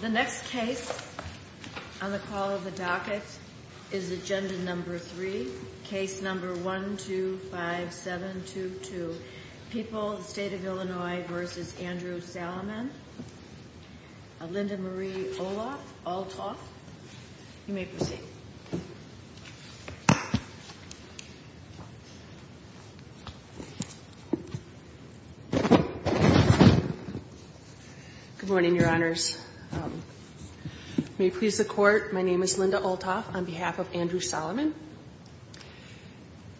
The next case on the call of the docket is agenda number three, case number 1-2-5-7-2-2, People, the State of Illinois v. Andrew Salamon, Linda-Marie Olaf-Altoff. You may proceed. Good morning, Your Honors. May it please the Court, my name is Linda Oltoff on behalf of Andrew Salamon.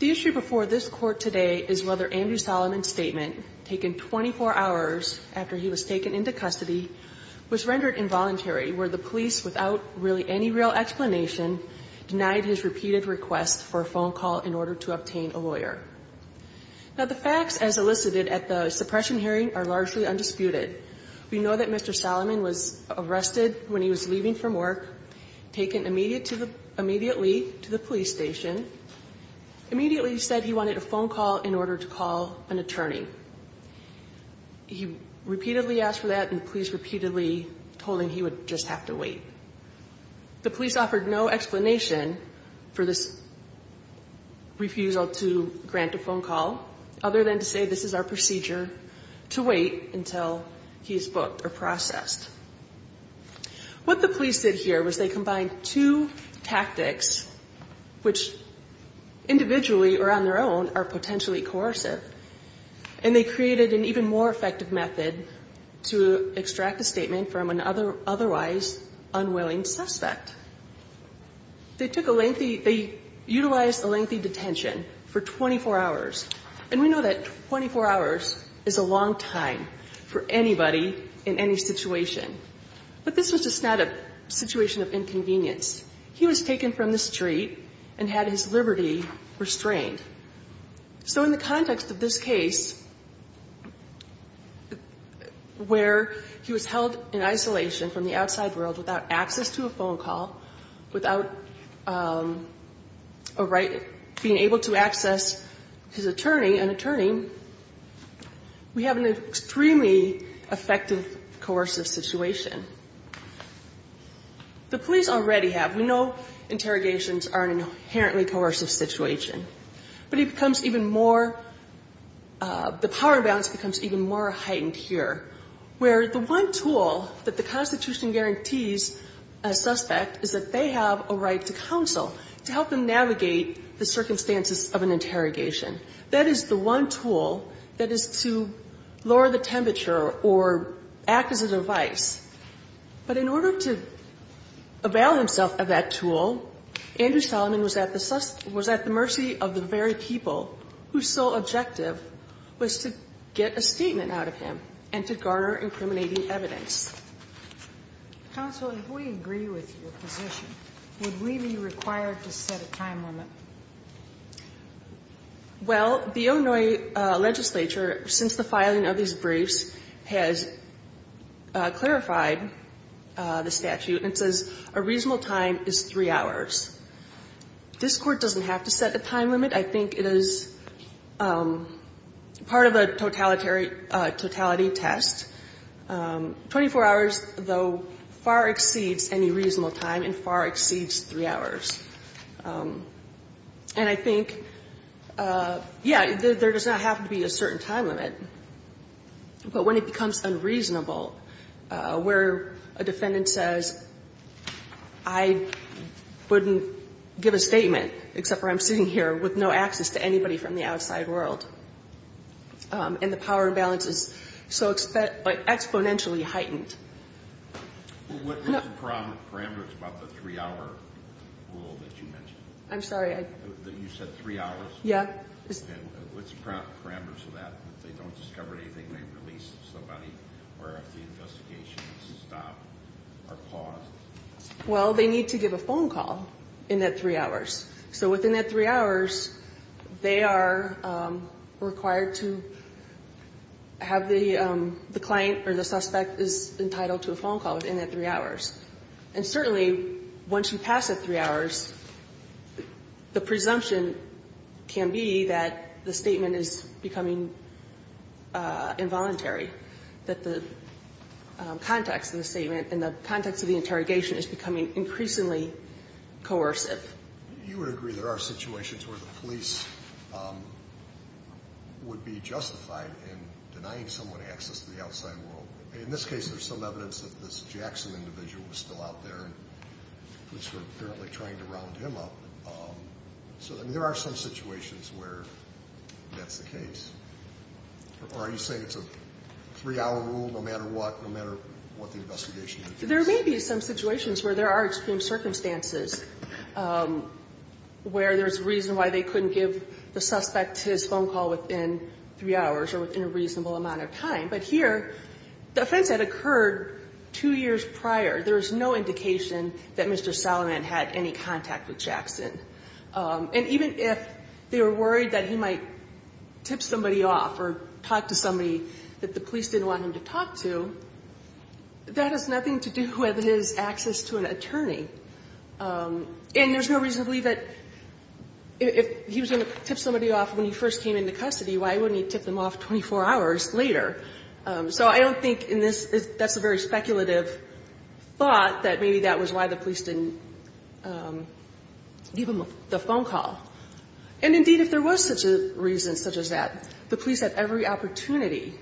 The issue before this Court today is whether Andrew Salamon's statement, taken 24 hours after he was taken into custody, was rendered involuntary, where the police, without really any real explanation, denied his repeated request for a phone call in order to obtain a lawyer. Now, the facts, as elicited at the suppression hearing, are largely undisputed. We know that Mr. Salamon was arrested when he was leaving from work, taken immediately to the police station. Immediately, he said he wanted a phone call in order to call an attorney. He repeatedly asked for that, and the police repeatedly told him he would just have to wait. The police offered no explanation for this refusal to grant a phone call, other than to say this is our procedure to wait until he is booked or processed. What the police did here was they combined two tactics, which individually or on their own are potentially coercive, and they created an even more effective method to extract a statement from an otherwise unwilling suspect. They took a lengthy they utilized a lengthy detention for 24 hours. And we know that 24 hours is a long time for anybody in any situation. But this was just not a situation of inconvenience. He was taken from the street and had his liberty restrained. So in the context of this case, where he was held in isolation from the outside world without access to a phone call, without a right, being able to access his attorney, an attorney, we have an extremely effective coercive situation. The police already have a very We know interrogations are an inherently coercive situation. But it becomes even more, the power imbalance becomes even more heightened here, where the one tool that the Constitution guarantees a suspect is that they have a right to counsel, to help them navigate the circumstances of an interrogation. That is the one tool that is to lower the temperature or act as a device. But in order to avail himself of that tool, Andrew Solomon was at the mercy of the very people whose sole objective was to get a statement out of him and to garner incriminating evidence. Counsel, if we agree with your position, would we be required to set a time limit? Well, the Onoi legislature, since the filing of these briefs, has clarified the statute and says a reasonable time is 3 hours. This Court doesn't have to set a time limit. I think it is part of a totality test. 24 hours, though, far exceeds any reasonable time and far exceeds 3 hours. And I think, yeah, there does not have to be a certain time limit. But when it becomes unreasonable, where we have to set a time limit, where a defendant says, I wouldn't give a statement, except for I'm sitting here, with no access to anybody from the outside world, and the power imbalance is so exponentially heightened. What is the parameters about the 3-hour rule that you mentioned? I'm sorry, I? You said 3 hours? Yeah. What's the parameters of that? If they don't discover anything, they release somebody? Or if the investigation is stopped or paused? Well, they need to give a phone call in that 3 hours. So within that 3 hours, they are required to have the client or the suspect is entitled to a phone call within that 3 hours. And certainly, once you pass that 3 hours, the presumption can be that the statement is becoming involuntary, that the context of the statement and the context of the interrogation is becoming increasingly coercive. You would agree there are situations where the police would be justified in denying someone access to the outside world. In this case, there's some evidence that this Jackson individual was still out there, and police were apparently trying to round him up. So, I mean, there are some situations where that's the case. Or are you saying it's a 3-hour rule no matter what, no matter what the investigation? There may be some situations where there are extreme circumstances where there's a reason why they couldn't give the suspect his phone call within 3 hours or within a reasonable amount of time. But here, the offense had occurred 2 years prior. There's no indication that Mr. Salomon had any contact with Jackson. And even if they were worried that he might tip somebody off or talk to somebody that the police didn't want him to talk to, that has nothing to do with his access to an attorney. And there's no reason to believe that if he was going to tip somebody off when he first came into custody, why wouldn't he tip them off 24 hours later? So I don't think in this, that's a very speculative thought, that maybe that was why the police didn't give him the phone call. And, indeed, if there was such a reason such as that, the police had every opportunity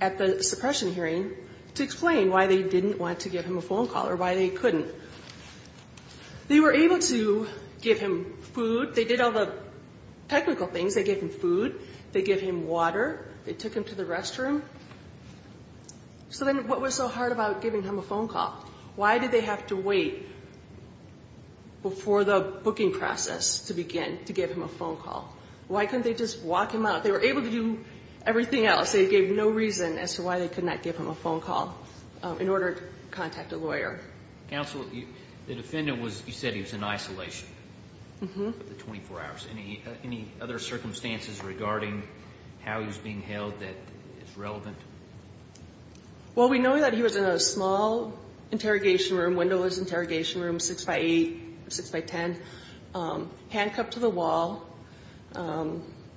at the suppression hearing to explain why they didn't want to give him a phone call or why they couldn't. They were able to give him food. They did all the technical things. They gave him food. They gave him water. They took him to the restroom. So then what was so hard about giving him a phone call? Why did they have to wait before the booking process to begin to give him a phone call? Why couldn't they just walk him out? They were able to do everything else. They gave no reason as to why they could not give him a phone call in order to contact a lawyer. Counsel, the defendant was, you said he was in isolation for 24 hours. Any other circumstances regarding how he was being held that is relevant? Well, we know that he was in a small interrogation room, windowless interrogation room, 6 by 8, 6 by 10, handcuffed to the wall.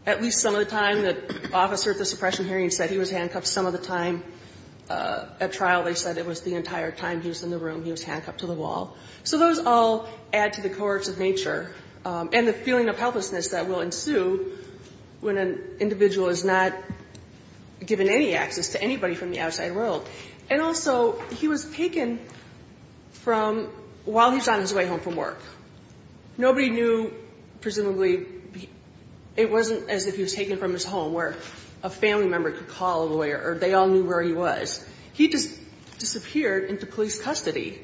At least some of the time the officer at the suppression hearing said he was handcuffed. Some of the time at trial they said it was the entire time he was in the room he was handcuffed to the wall. So those all add to the coerce of nature and the feeling of helplessness that will ensue when an individual is not given any access to anybody from the outside world. And also, he was taken from while he was on his way home from work. Nobody knew, presumably, it wasn't as if he was taken from his home where a family member could call a lawyer or they all knew where he was. He just disappeared into police custody,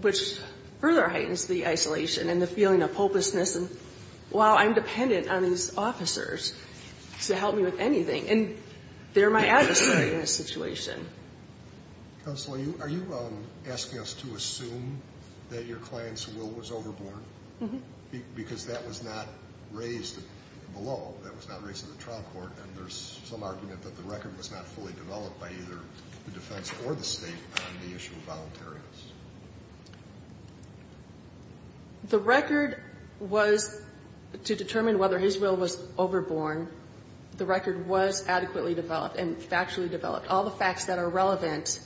which further heightens the isolation and the feeling of hopelessness. And, wow, I'm dependent on these officers to help me with anything. And they're my adversary in this situation. Counsel, are you asking us to assume that your client's will was overboard? Because that was not raised below. That was not raised in the trial court. And there's some argument that the record was not fully developed by either the defense or the State on the issue of voluntariness. The record was, to determine whether his will was overboard, the record was adequately developed and factually developed. All the facts that are relevant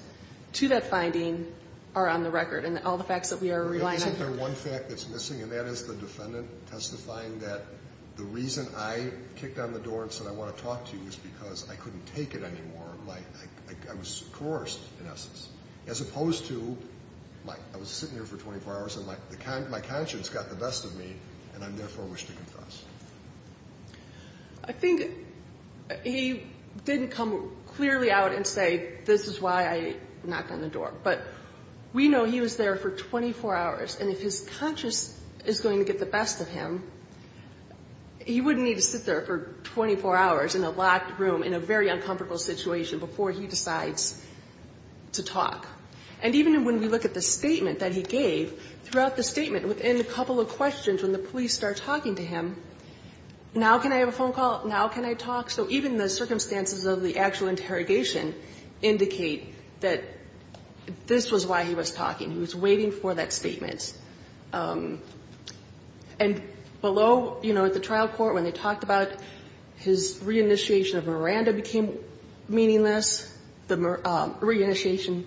to that finding are on the record, and all the facts that we are relying on here. Isn't there one fact that's missing, and that is the defendant testifying that the reason I kicked on the door and said I want to talk to you is because I couldn't take it anymore. Like, I was coerced, in essence. As opposed to, like, I was sitting here for 24 hours, and my conscience got the best of me, and I therefore wish to confess. I think he didn't come clearly out and say, this is why I knocked on the door. But we know he was there for 24 hours, and if his conscience is going to get the best of him, he wouldn't need to sit there for 24 hours in a locked room in a very uncomfortable situation before he decides to talk. And even when we look at the statement that he gave, throughout the statement, within a couple of questions, when the police start talking to him, now can I have a phone call? Now can I talk? So even the circumstances of the actual interrogation indicate that this was why he was talking. He was waiting for that statement. And below, you know, at the trial court, when they talked about his reinitiation of Miranda became meaningless, the reinitiation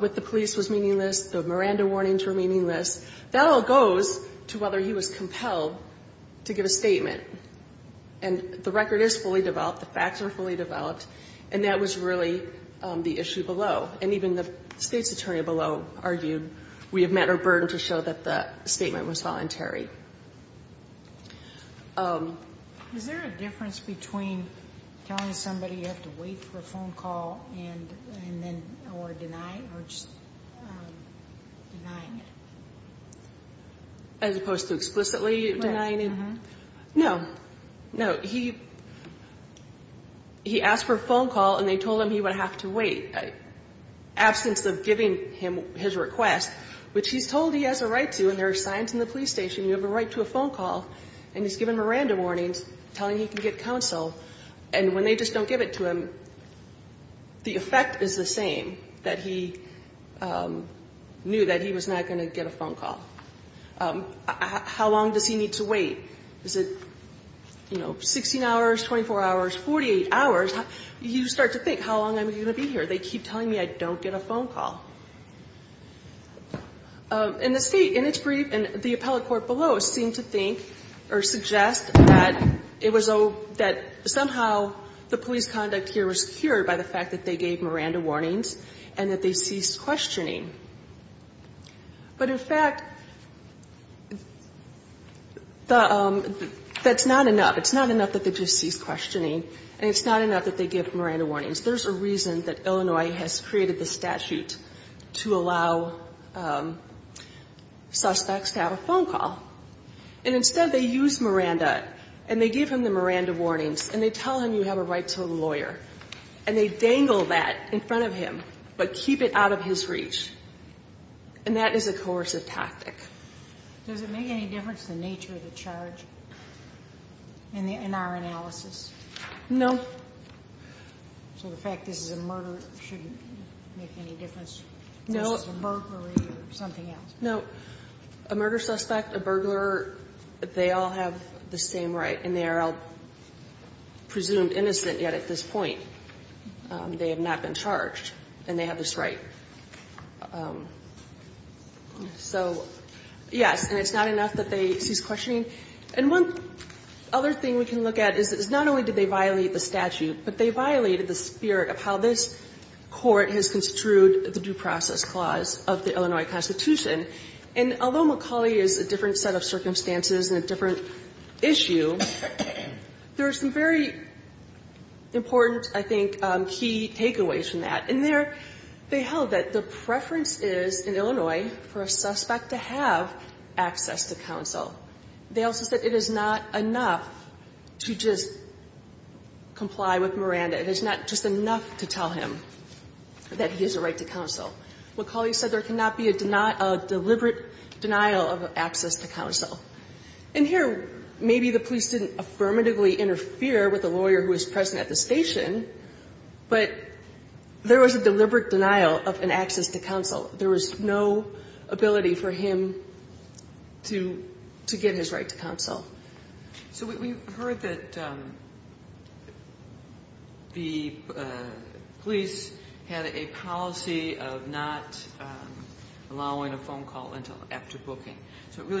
with the police was meaningless, the Miranda warnings were meaningless, that all goes to whether he was compelled to give a statement. And the record is fully developed, the facts are fully developed, and that was really the issue below. And even the State's attorney below argued we have met our burden to show that the statement was voluntary. Sotomayor Is there a difference between telling somebody you have to wait for a phone call and then, or denying, or just denying it? O'Connell As opposed to explicitly denying it? Sotomayor Right. Uh-huh. O'Connell No. No. He asked for a phone call, and they told him he would have to wait. Absence of giving him his request, which he's told he has a right to, and there are signs in the police station, you have a right to a phone call, and he's given Miranda warnings telling he can get counsel. And when they just don't give it to him, the effect is the same, that he knew that he was not going to get a phone call. How long does he need to wait? Is it, you know, 16 hours, 24 hours, 48 hours? You start to think, how long am I going to be here? They keep telling me I don't get a phone call. And the State, in its brief, and the appellate court below, seemed to think or suggest that it was a, that somehow the police conduct here was cured by the fact that they gave Miranda warnings and that they ceased questioning. But, in fact, the, that's not enough. It's not enough that they just cease questioning, and it's not enough that they give Miranda warnings. There's a reason that Illinois has created this statute to allow suspects to have a phone call. And instead, they use Miranda, and they give him the Miranda warnings, and they tell him you have a right to a lawyer. And they dangle that in front of him, but keep it out of his reach. And that is a coercive tactic. Does it make any difference, the nature of the charge, in our analysis? No. So the fact this is a murder shouldn't make any difference? No. This is a burglary or something else? No. A murder suspect, a burglar, they all have the same right, and they are all presumed innocent yet at this point. They have not been charged, and they have this right. So, yes, and it's not enough that they cease questioning. And one other thing we can look at is not only did they violate the statute, but they violated the spirit of how this Court has construed the due process clause of the Illinois Constitution. And although McCauley is a different set of circumstances and a different issue, there are some very important, I think, key takeaways from that. In there, they held that the preference is, in Illinois, for a suspect to have access to counsel. They also said it is not enough to just comply with Miranda. It is not just enough to tell him that he has a right to counsel. McCauley said there cannot be a deliberate denial of access to counsel. And here, maybe the police didn't affirmatively interfere with the lawyer who was present at the station, but there was a deliberate denial of an access to counsel. There was no ability for him to give his right to counsel. So we've heard that the police had a policy of not allowing a phone call until after the statute. Who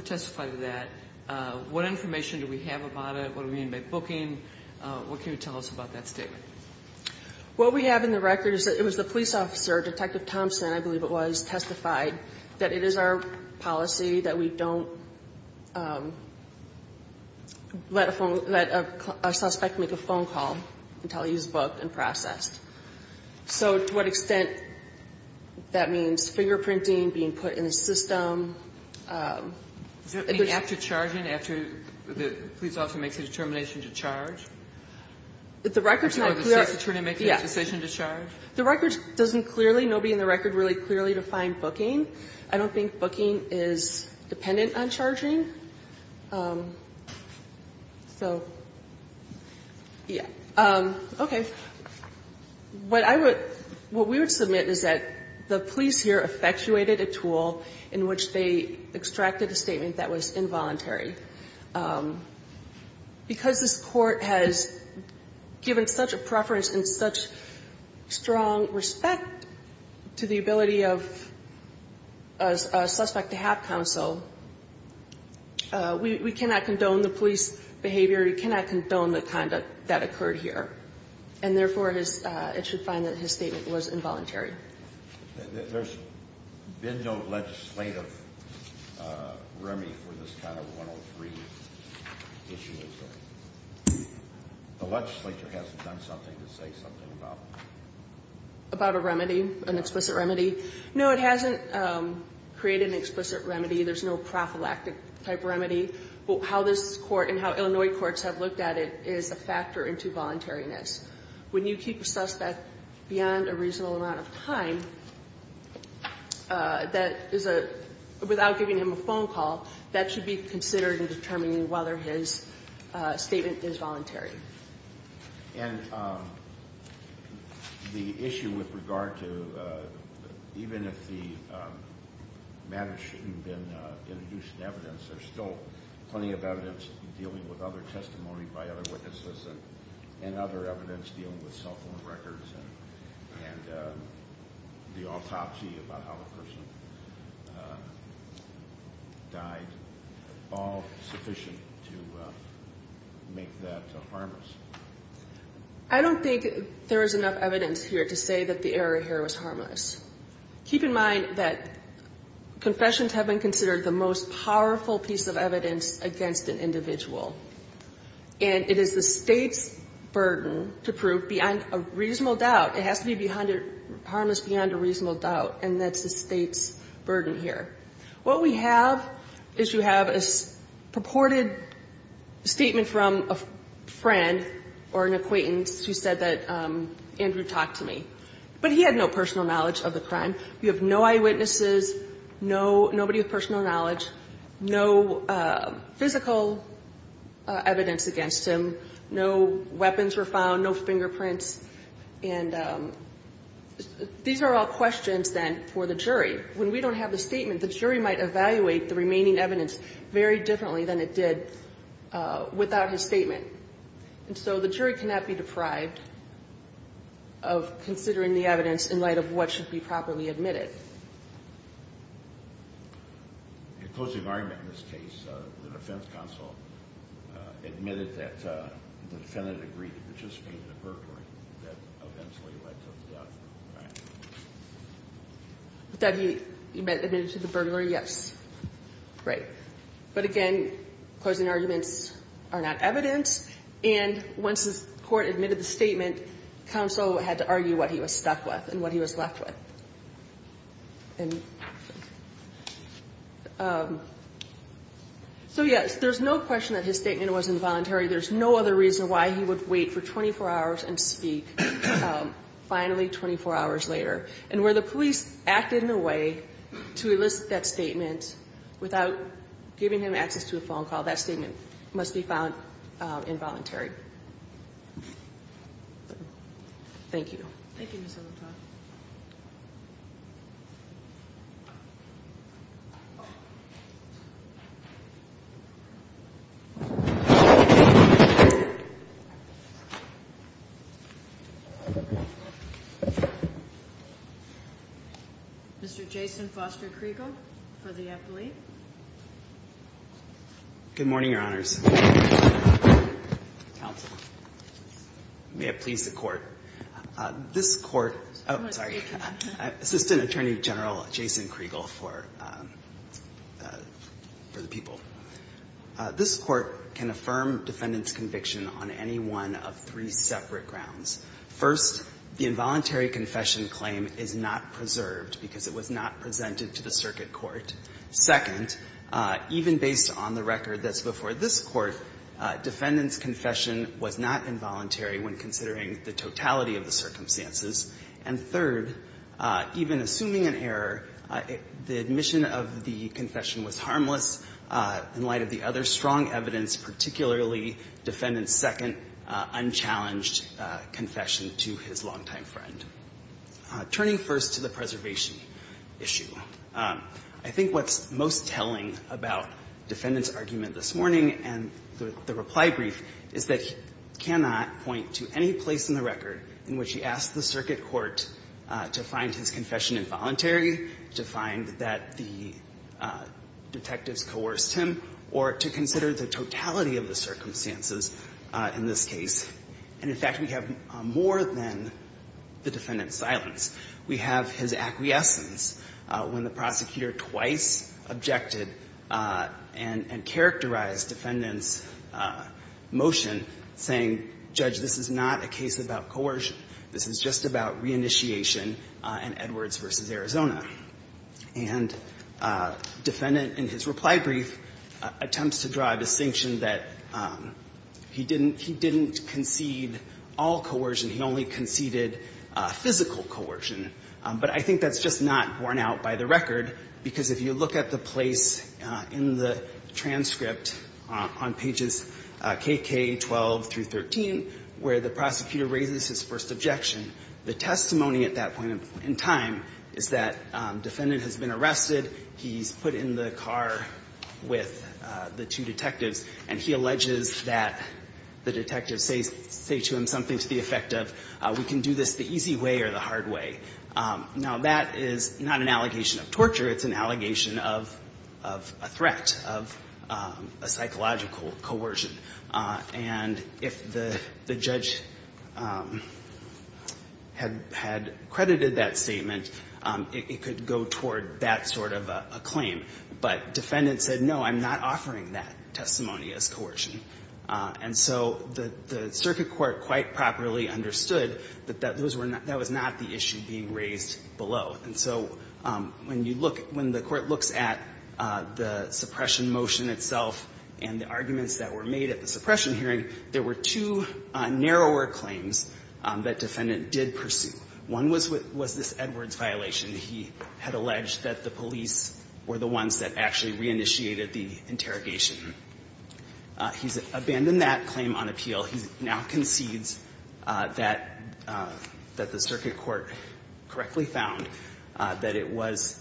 testified to that? What information do we have about it? What do we mean by booking? What can you tell us about that statement? What we have in the record is that it was the police officer, Detective Thompson, I believe it was, testified that it is our policy that we don't let a phone – let a suspect make a phone call until he is booked and processed. So to what extent that means fingerprinting, being put in the system? It was – After charging, after the police officer makes a determination to charge? The record's not clear – Or the state's attorney makes a decision to charge? The record doesn't clearly – nobody in the record really clearly defined booking. I don't think booking is dependent on charging. So, yeah. Okay. What I would – what we would submit is that the police here effectuated a tool in which they extracted a statement that was involuntary. Because this Court has given such a preference and such strong respect to the ability of a suspect to have counsel, we cannot condone the police behavior, we cannot condone the conduct that occurred here. And therefore, it should find that his statement was involuntary. There's been no legislative remedy for this kind of 103 issue? The legislature hasn't done something to say something about it? About a remedy? An explicit remedy? No, it hasn't created an explicit remedy. There's no prophylactic type remedy. But how this Court and how Illinois courts have looked at it is a factor into voluntariness. When you keep a suspect beyond a reasonable amount of time, that is a – without giving him a phone call, that should be considered in determining whether his statement is voluntary. And the issue with regard to – even if the matter shouldn't have been introduced in evidence, there's still plenty of evidence dealing with other testimony by other witnesses and other evidence dealing with cell phone records and the autopsy about how the person died. I don't think there is enough evidence here to say that the error here was harmless. Keep in mind that confessions have been considered the most powerful piece of evidence against an individual. And it is the State's burden to prove beyond a reasonable doubt, it has to be harmless and that's the State's burden here. What we have is you have a purported statement from a friend or an acquaintance who said that Andrew talked to me. But he had no personal knowledge of the crime. You have no eyewitnesses, no – nobody with personal knowledge, no physical evidence against him, no weapons were found, no fingerprints. And these are all questions, then, for the jury. When we don't have the statement, the jury might evaluate the remaining evidence very differently than it did without his statement. And so the jury cannot be deprived of considering the evidence in light of what should be properly admitted. The closing argument in this case, the defense counsel admitted that the defendant agreed to participate in the burglary that eventually led to the death, right? That he admitted to the burglary, yes. Right. But again, closing arguments are not evidence. And once the court admitted the statement, counsel had to argue what he was stuck with and what he was left with. And so, yes, there's no question that his statement was involuntary. There's no other reason why he would wait for 24 hours and speak finally 24 hours later. And where the police acted in a way to elicit that statement without giving him access to a phone call, that statement must be found involuntary. Thank you. Thank you, Mr. Liptoff. Mr. Jason Foster-Kriegel for the appellate. Good morning, Your Honors. Counsel. May it please the Court. This Court — Oh, sorry. Assistant Attorney General Jason Kriegel for the people. This Court can affirm defendant's conviction on any one of three separate grounds. First, the involuntary confession claim is not preserved because it was not presented to the circuit court. Second, even based on the record that's before this Court, defendant's confession was not involuntary when considering the totality of the circumstances. And third, even assuming an error, the admission of the confession was harmless in light of the other strong evidence, particularly defendant's second unchallenged confession to his longtime friend. Turning first to the preservation issue, I think what's most telling about defendant's warning and the reply brief is that he cannot point to any place in the record in which he asked the circuit court to find his confession involuntary, to find that the detectives coerced him, or to consider the totality of the circumstances in this case. And, in fact, we have more than the defendant's silence. We have his acquiescence when the prosecutor twice objected and characterized defendant's motion saying, Judge, this is not a case about coercion. This is just about reinitiation in Edwards v. Arizona. And defendant, in his reply brief, attempts to draw a distinction that he didn't concede all coercion. He only conceded physical coercion. But I think that's just not borne out by the record, because if you look at the place in the transcript on pages KK 12 through 13 where the prosecutor raises his first objection, the testimony at that point in time is that defendant has been arrested, he's put in the car with the two detectives, and he alleges that the detectives say to him something to the effect of, we can do this the easy way or the hard way. Now, that is not an allegation of torture. It's an allegation of a threat, of a psychological coercion. And if the judge had credited that statement, it could go toward that sort of a claim. But defendant said, no, I'm not offering that testimony as coercion. And so the circuit court quite properly understood that that was not the issue being raised below. And so when you look at the court looks at the suppression motion itself and the arguments that were made at the suppression hearing, there were two narrower claims that defendant did pursue. One was this Edwards violation. He had alleged that the police were the ones that actually reinitiated the interrogation. He's abandoned that claim on appeal. He now concedes that the circuit court correctly found that it was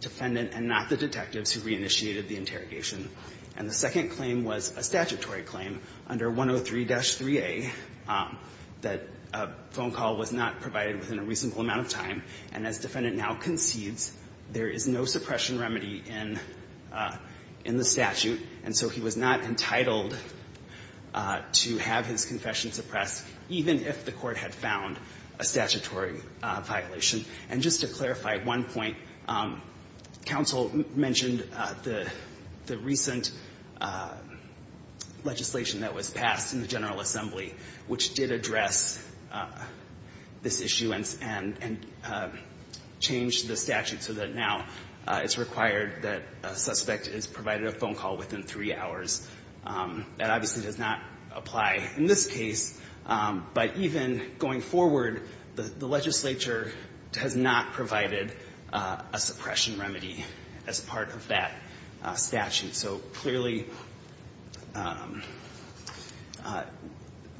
defendant and not the detectives who reinitiated the interrogation. And the second claim was a statutory claim under 103-3A that a phone call was not provided within a reasonable amount of time, and as defendant now concedes, there is no suppression remedy in the statute. And so he was not entitled to have his confession suppressed, even if the court had found a statutory violation. And just to clarify one point, counsel mentioned the recent legislation that was passed in the General Assembly, which did address this issue and changed the statute so that now it's required that a suspect is provided a phone call within three hours. That obviously does not apply in this case, but even going forward, the legislature has not provided a suppression remedy as part of that statute. So clearly,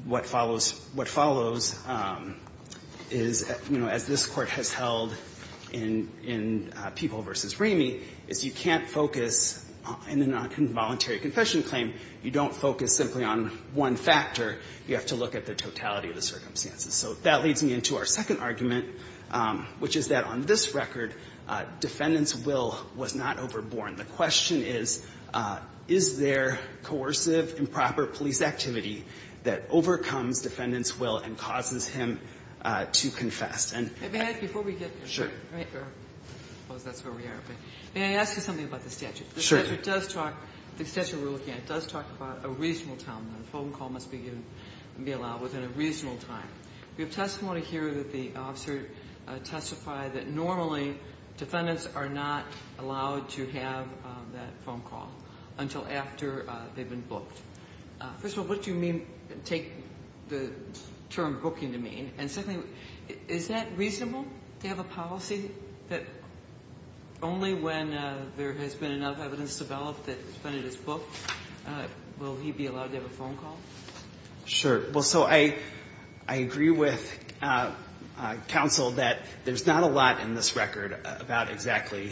what follows, what follows is, you know, as this Court has held in, in People v. Ramey, is you can't focus in a nonvoluntary confession claim, you don't focus simply on one factor. You have to look at the totality of the circumstances. So that leads me into our second argument, which is that on this record, defendant's will was not overborne. The question is, is there coercive, improper police activity that overcomes defendant's will and causes him to confess? And I think that's what we're getting at. I suppose that's where we are. May I ask you something about the statute? The statute does talk, the statute we're looking at does talk about a reasonable time. A phone call must be given, be allowed within a reasonable time. We have testimony here that the officer testified that normally defendants are not allowed to have that phone call until after they've been booked. And secondly, is that reasonable to have a policy that only when there has been enough evidence developed that defendant is booked will he be allowed to have a phone call? Sure. Well, so I, I agree with counsel that there's not a lot in this record about exactly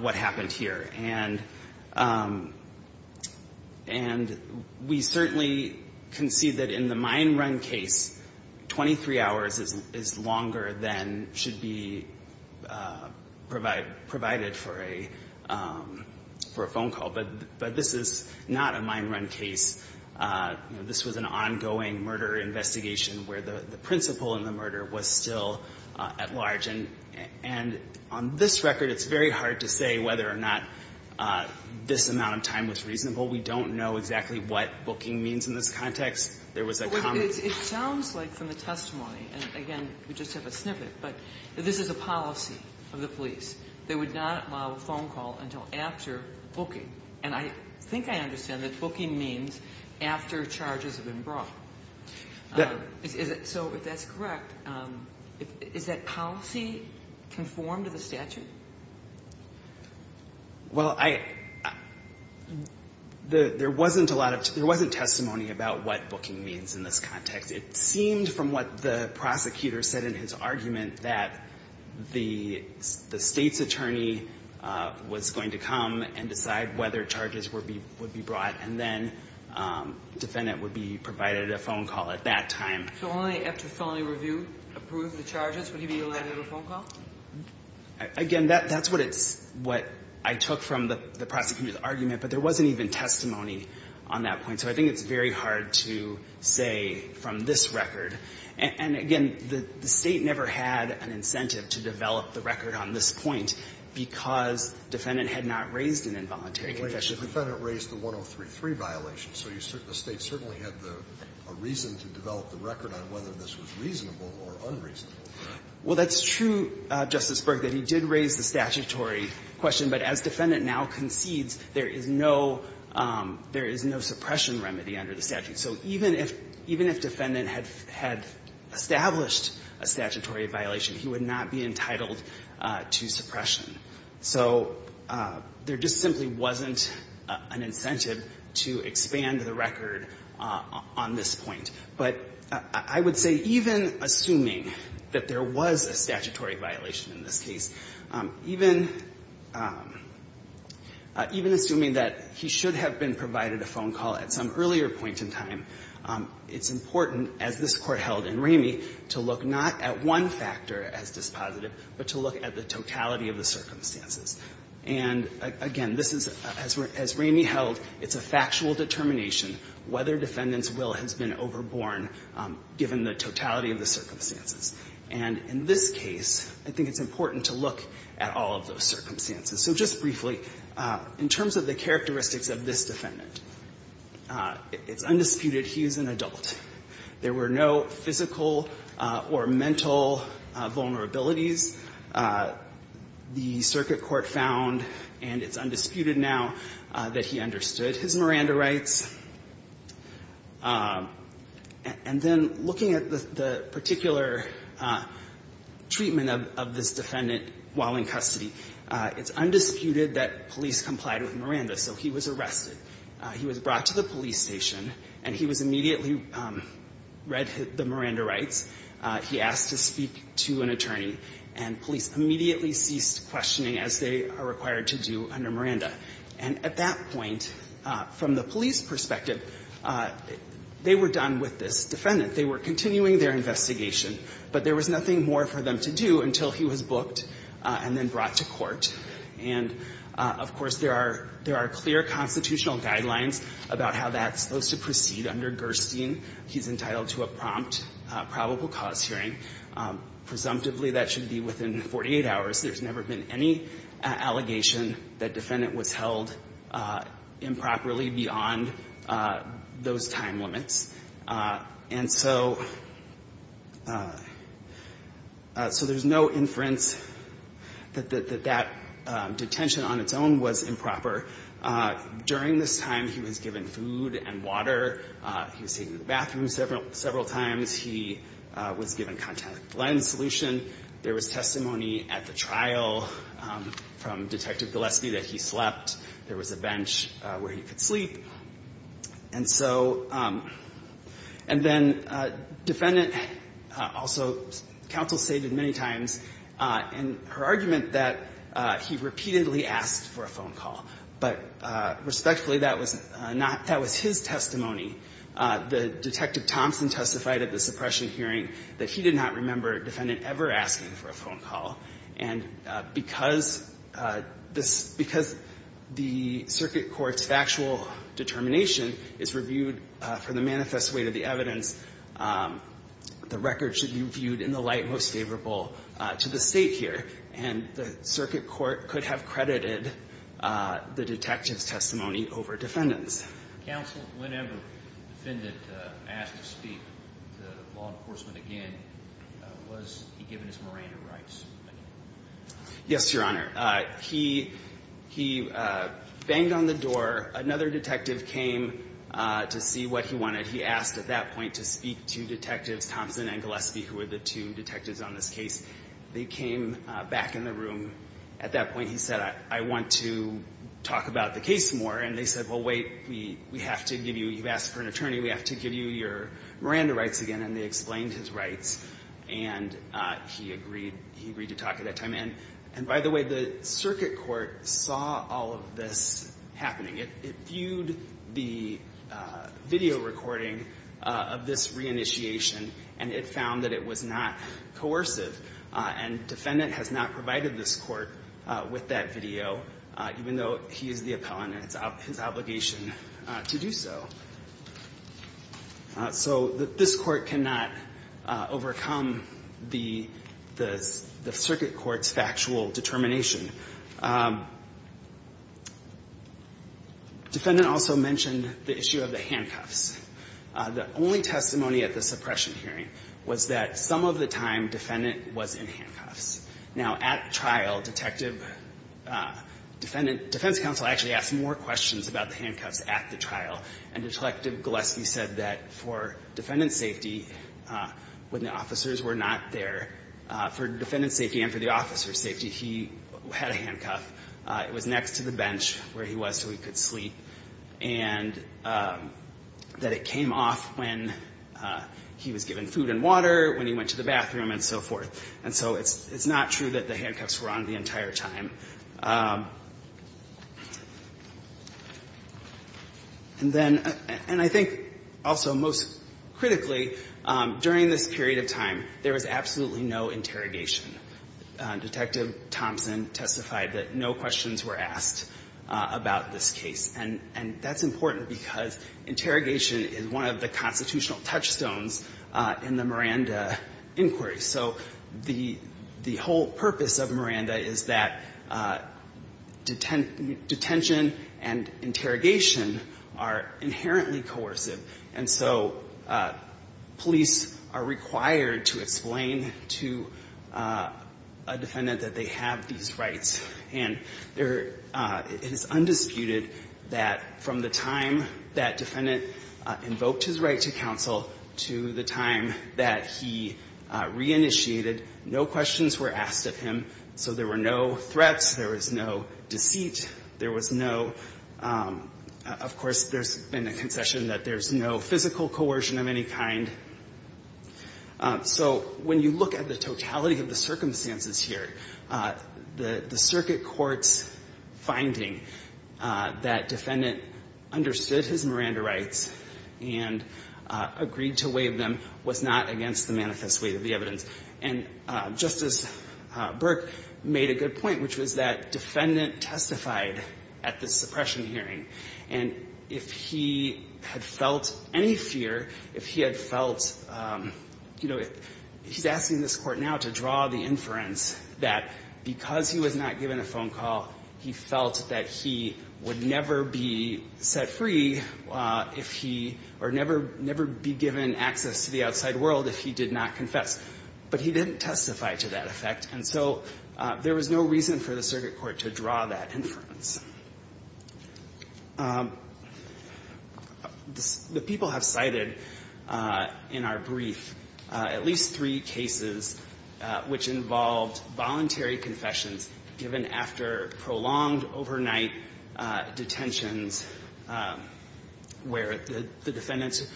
what happened here. And, and we certainly can see that in the mine run case, 23 hours is, is longer than should be provide, provided for a, for a phone call. But, but this is not a mine run case. You know, this was an ongoing murder investigation where the, the principle in the murder was still at large. And, and on this record, it's very hard to say whether or not this amount of time was reasonable. We don't know exactly what booking means in this context. There was a common. It sounds like from the testimony, and again, we just have a snippet, but this is a policy of the police. They would not allow a phone call until after booking. And I think I understand that booking means after charges have been brought. Is it, so if that's correct, is that policy conformed to the statute? Well, I, the, there wasn't a lot of, there wasn't testimony about what booking means in this context. It seemed from what the prosecutor said in his argument that the, the state's attorney was going to come and decide whether charges were be, would be brought and then defendant would be provided a phone call at that time. So only after felony review approved the charges would he be allowed a phone call? Again, that, that's what it's, what I took from the, the prosecutor's argument, but there wasn't even testimony on that point. So I think it's very hard to say from this record. And, and again, the, the State never had an incentive to develop the record on this point because defendant had not raised an involuntary conviction. The defendant raised the 103.3 violation. So you, the State certainly had the, a reason to develop the record on whether this was reasonable or unreasonable. Well, that's true, Justice Berg, that he did raise the statutory question. But as defendant now concedes, there is no, there is no suppression remedy under the statute. So even if, even if defendant had, had established a statutory violation, he would not be entitled to suppression. So there just simply wasn't an incentive to expand the record on, on this point. But I would say even assuming that there was a statutory violation in this case, even, even assuming that he should have been provided a phone call at some earlier point in time, it's important, as this Court held in Ramey, to look not at one factor as dispositive, but to look at the totality of the circumstances. And again, this is, as Ramey held, it's a factual determination whether defendant's will has been overborne, given the totality of the circumstances. And in this case, I think it's important to look at all of those circumstances. So just briefly, in terms of the characteristics of this defendant, it's undisputed he is an adult. There were no physical or mental vulnerabilities. The circuit court found, and it's undisputed now, that he understood his Miranda rights. And then looking at the, the particular treatment of, of this defendant while in custody, it's undisputed that police complied with Miranda, so he was arrested. He was brought to the police station, and he was immediately read the Miranda rights. He asked to speak to an attorney, and police immediately ceased questioning as they are required to do under Miranda. And at that point, from the police perspective, they were done with this defendant. They were continuing their investigation. But there was nothing more for them to do until he was booked and then brought to court. And, of course, there are, there are clear constitutional guidelines about how that's supposed to proceed under Gerstein. He's entitled to a prompt probable cause hearing. Presumptively, that should be within 48 hours. There's never been any allegation that defendant was held improperly beyond those time limits. And so, so there's no inference that, that, that detention on its own was improper. During this time, he was given food and water. He was taken to the bathroom several, several times. He was given contact lens solution. There was testimony at the trial from Detective Gillespie that he slept. There was a bench where he could sleep. And so, and then defendant also counsel stated many times in her argument that he repeatedly asked for a phone call. But respectfully, that was not, that was his testimony. The Detective Thompson testified at the suppression hearing that he did not remember defendant ever asking for a phone call. And because this, because the circuit court's factual determination is reviewed for the manifest way to the evidence, the record should be viewed in the light most favorable to the state here. And the circuit court could have credited the detective's testimony over defendant's. Counsel, whenever defendant asked to speak to law enforcement again, was he given his Miranda rights? Yes, Your Honor. He, he banged on the door. Another detective came to see what he wanted. He asked at that point to speak to Detectives Thompson and Gillespie, who were the two detectives on this case. They came back in the room. At that point, he said, I want to talk about the case more. And they said, well, wait, we have to give you, you've asked for an attorney. We have to give you your Miranda rights again. And they explained his rights. And he agreed, he agreed to talk at that time. And by the way, the circuit court saw all of this happening. It viewed the video recording of this reinitiation, and it found that it was not coercive. And defendant has not provided this court with that video, even though he is the appellant and it's his obligation to do so. So this court cannot overcome the circuit court's factual determination. Defendant also mentioned the issue of the handcuffs. The only testimony at the suppression hearing was that some of the time defendant was in handcuffs. Now, at trial, detective, defendant, defense counsel actually asked more questions about the handcuffs at the trial. And Detective Gillespie said that for defendant's safety, when the officers were not there, for defendant's safety and for the officer's safety, he had a handcuff. It was next to the bench where he was so he could sleep. And that it came off when he was given food and water, when he went to the bathroom and so forth. And so it's not true that the handcuffs were on the entire time. And then, and I think also most critically, during this period of time, there was absolutely no interrogation. Detective Thompson testified that no questions were asked about this case. And that's important because interrogation is one of the constitutional touchstones in the Miranda inquiry. So the whole purpose of Miranda is that detention and interrogation are inherently coercive. And so police are required to explain to a defendant that they have these rights. And it is undisputed that from the time that defendant invoked his right to counsel to the time that he reinitiated, no questions were asked of him. So there were no threats. There was no deceit. There was no, of course, there's been a concession that there's no physical coercion of any kind. So when you look at the totality of the circumstances here, the circuit court's finding that defendant understood his Miranda rights and agreed to waive them was not against the manifest weight of the evidence. And Justice Burke made a good point, which was that defendant testified at the suppression hearing. And if he had felt any fear, if he had felt, you know, he's asking this Court now to draw the inference that because he was not given a phone call, he felt that he would never be set free if he or never be given access to the outside world if he did not confess, but he didn't testify to that effect. And so there was no reason for the circuit court to draw that inference. The people have cited in our brief at least three cases which involved voluntary confessions given after prolonged overnight detentions where the defendant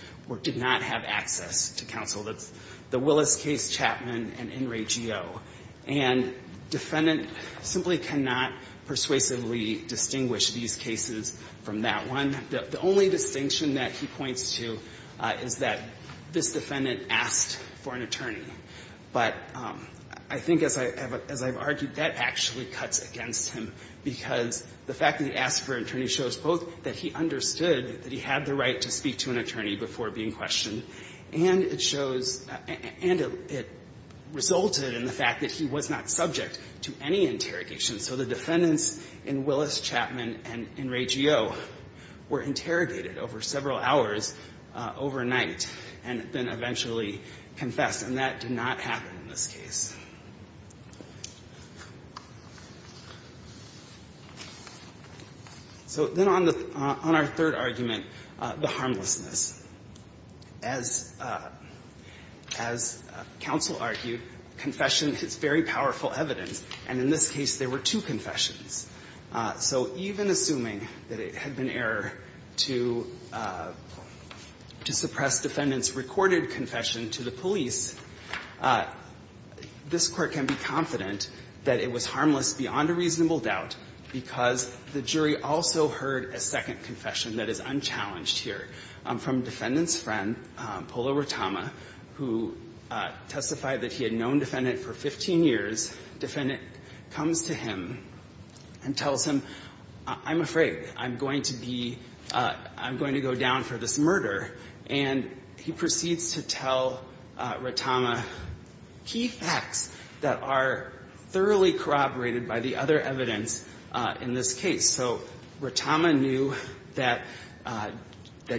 did not have access to counsel. That's the Willis case, Chapman, and In re Geo. And defendant simply cannot persuasively distinguish these cases from that one. The only distinction that he points to is that this defendant asked for an attorney. But I think as I've argued, that actually cuts against him because the fact that he asked for an attorney shows both that he understood that he had the right to speak to an attorney before being questioned, and it shows, and it resulted in the fact that he was not subject to any interrogation. So the defendants in Willis, Chapman, and in re Geo were interrogated over several hours overnight and then eventually confessed, and that did not happen in this case. So then on our third argument, the harmlessness. As counsel argued, confession is very powerful evidence, and in this case there were two confessions. So even assuming that it had been error to suppress defendant's recorded confession to the police, this Court can be confident that it was harmless beyond a reasonable doubt because the jury also heard a second confession that is unchallenged here from defendant's friend, Polo Rotama, who testified that he had known defendant for 15 years. Defendant comes to him and tells him, I'm afraid, I'm going to be, I'm going to go down for this murder, and he proceeds to tell Rotama key facts that are thoroughly corroborated by the other evidence in this case. So Rotama knew that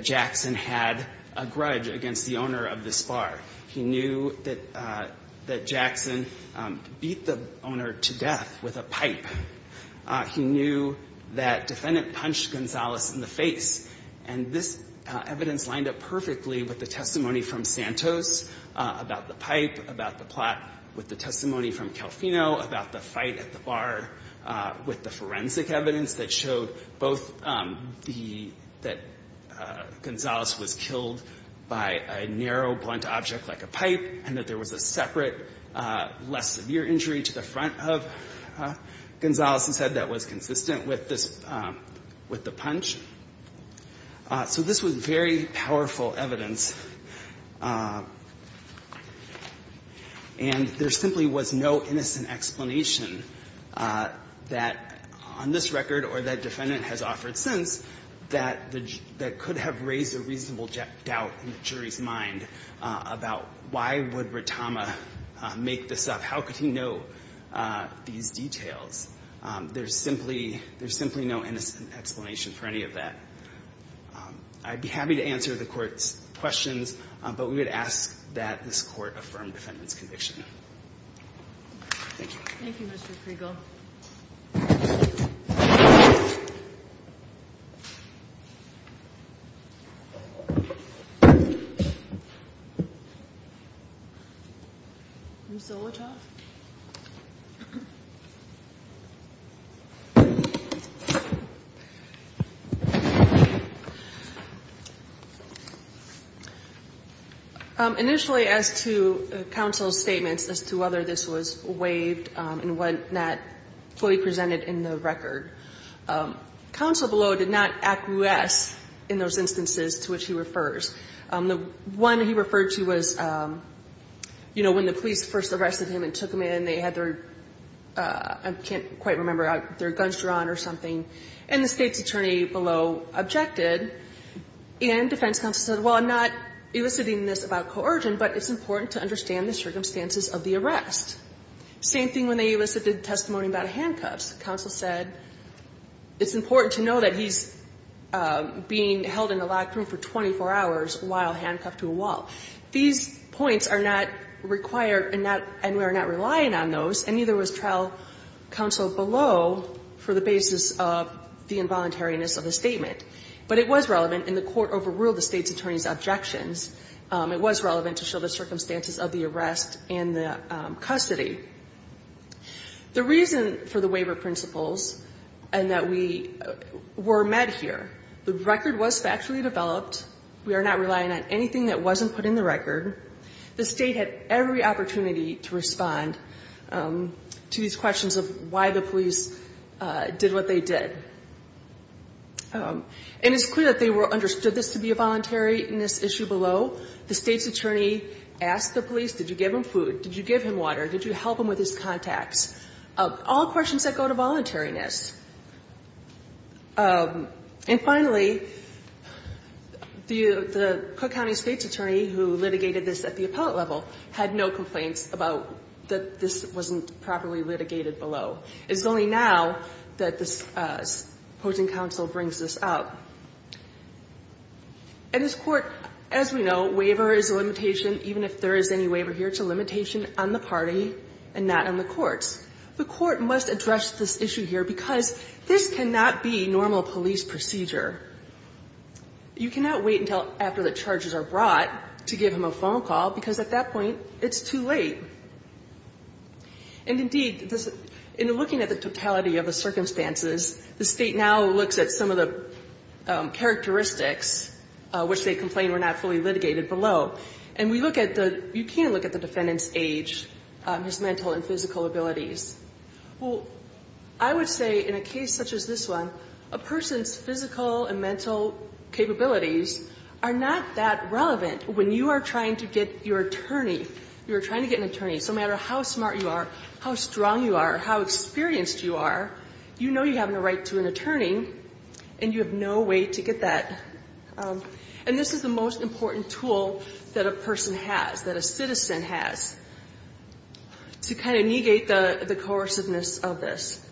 Jackson had a grudge against the owner of this bar. He knew that Jackson beat the owner to death with a pipe. He knew that defendant punched Gonzales in the face. And this evidence lined up perfectly with the testimony from Santos about the pipe, about the plot, with the testimony from Calvino about the fight at the bar, with the forensic evidence that showed both the, that Gonzales was killed by a narrow, blunt object like a pipe, and that there was a separate, less severe injury to the head that was consistent with this, with the punch. So this was very powerful evidence. And there simply was no innocent explanation that on this record or that defendant has offered since that the, that could have raised a reasonable doubt in the jury's mind about why would Rotama make this up? How could he know these details? There's simply, there's simply no innocent explanation for any of that. I'd be happy to answer the Court's questions, but we would ask that this Court affirm the defendant's conviction. Thank you. Thank you, Mr. Kriegel. Ms. Zolotoff. Initially, as to counsel's statements as to whether this was waived and what not fully presented in the record, counsel below did not acquiesce in those instances to which he refers. The one he referred to was, you know, when the police first arrested him and took him in, they had their, I can't quite remember, their guns drawn or something, and the State's attorney below objected. And defense counsel said, well, I'm not eliciting this about coercion, but it's important to understand the circumstances of the arrest. Same thing when they elicited testimony about handcuffs. Counsel said, it's important to know that he's being held in a locked room for 24 hours while handcuffed to a wall. These points are not required and we are not relying on those, and neither was trial counsel below for the basis of the involuntariness of the statement. But it was relevant, and the Court overruled the State's attorney's objections. It was relevant to show the circumstances of the arrest and the custody. The reason for the waiver principles and that we were met here, the record was factually developed. We are not relying on anything that wasn't put in the record. The State had every opportunity to respond to these questions of why the police did what they did. And it's clear that they understood this to be a voluntariness issue below. The State's attorney asked the police, did you give him food? Did you give him water? Did you help him with his contacts? All questions that go to voluntariness. And finally, the Cook County State's attorney who litigated this at the appellate level had no complaints about that this wasn't properly litigated below. It's only now that this opposing counsel brings this up. And this Court, as we know, waiver is a limitation, even if there is any waiver here, it's a limitation on the party and not on the courts. The Court must address this issue here because this cannot be normal police procedure. You cannot wait until after the charges are brought to give him a phone call because at that point it's too late. And indeed, in looking at the totality of the circumstances, the State now looks at some of the characteristics which they complained were not fully litigated below. And we look at the, you can't look at the defendant's age, his mental and physical abilities. Well, I would say in a case such as this one, a person's physical and mental capabilities are not that relevant when you are trying to get your attorney, you are trying to get an attorney. So no matter how smart you are, how strong you are, how experienced you are, you know you have a right to an attorney and you have no way to get that. And this is the most important tool that a person has, that a citizen has, to kind of negate the coerciveness of this.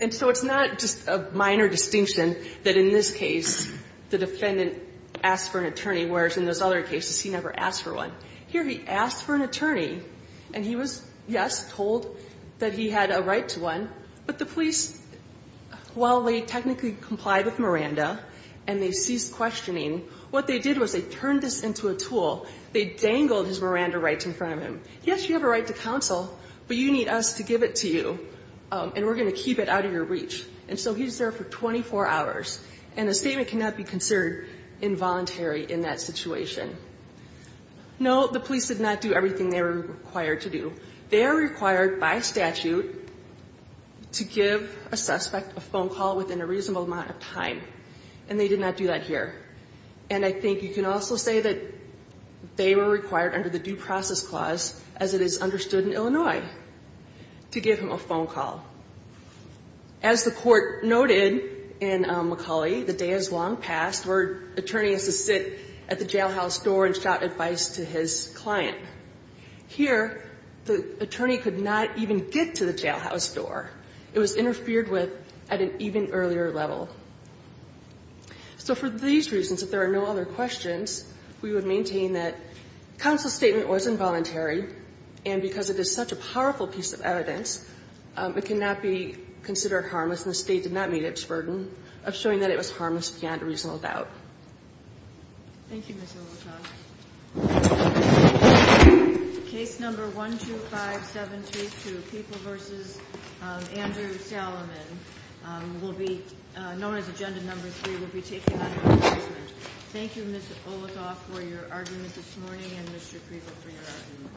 And so it's not just a minor distinction that in this case the defendant asked for an attorney, whereas in those other cases he never asked for one. Here he asked for an attorney and he was, yes, told that he had a right to one, but the police, while they technically complied with Miranda and they ceased questioning, what they did was they turned this into a tool. They dangled his Miranda rights in front of him. Yes, you have a right to counsel, but you need us to give it to you and we're going to keep it out of your reach. And so he's there for 24 hours. And a statement cannot be considered involuntary in that situation. No, the police did not do everything they were required to do. They are required by statute to give a suspect a phone call within a reasonable amount of time. And they did not do that here. And I think you can also say that they were required under the Due Process Clause, as it is understood in Illinois, to give him a phone call. As the Court noted in McCulley, the day is long past where an attorney has to sit at the jailhouse door and shout advice to his client. Here the attorney could not even get to the jailhouse door. It was interfered with at an even earlier level. So for these reasons, if there are no other questions, we would maintain that counsel's statement was involuntary. And because it is such a powerful piece of evidence, it cannot be considered harmless, and the State did not meet its burden of showing that it was harmless beyond a reasonable doubt. Thank you, Ms. Olichok. Case number 12572, Peeple v. Andrew Salomon, known as Agenda Number 3, will be taken under assessment. Thank you, Ms. Olichok, for your argument this morning, and Mr. Preeble for your argument.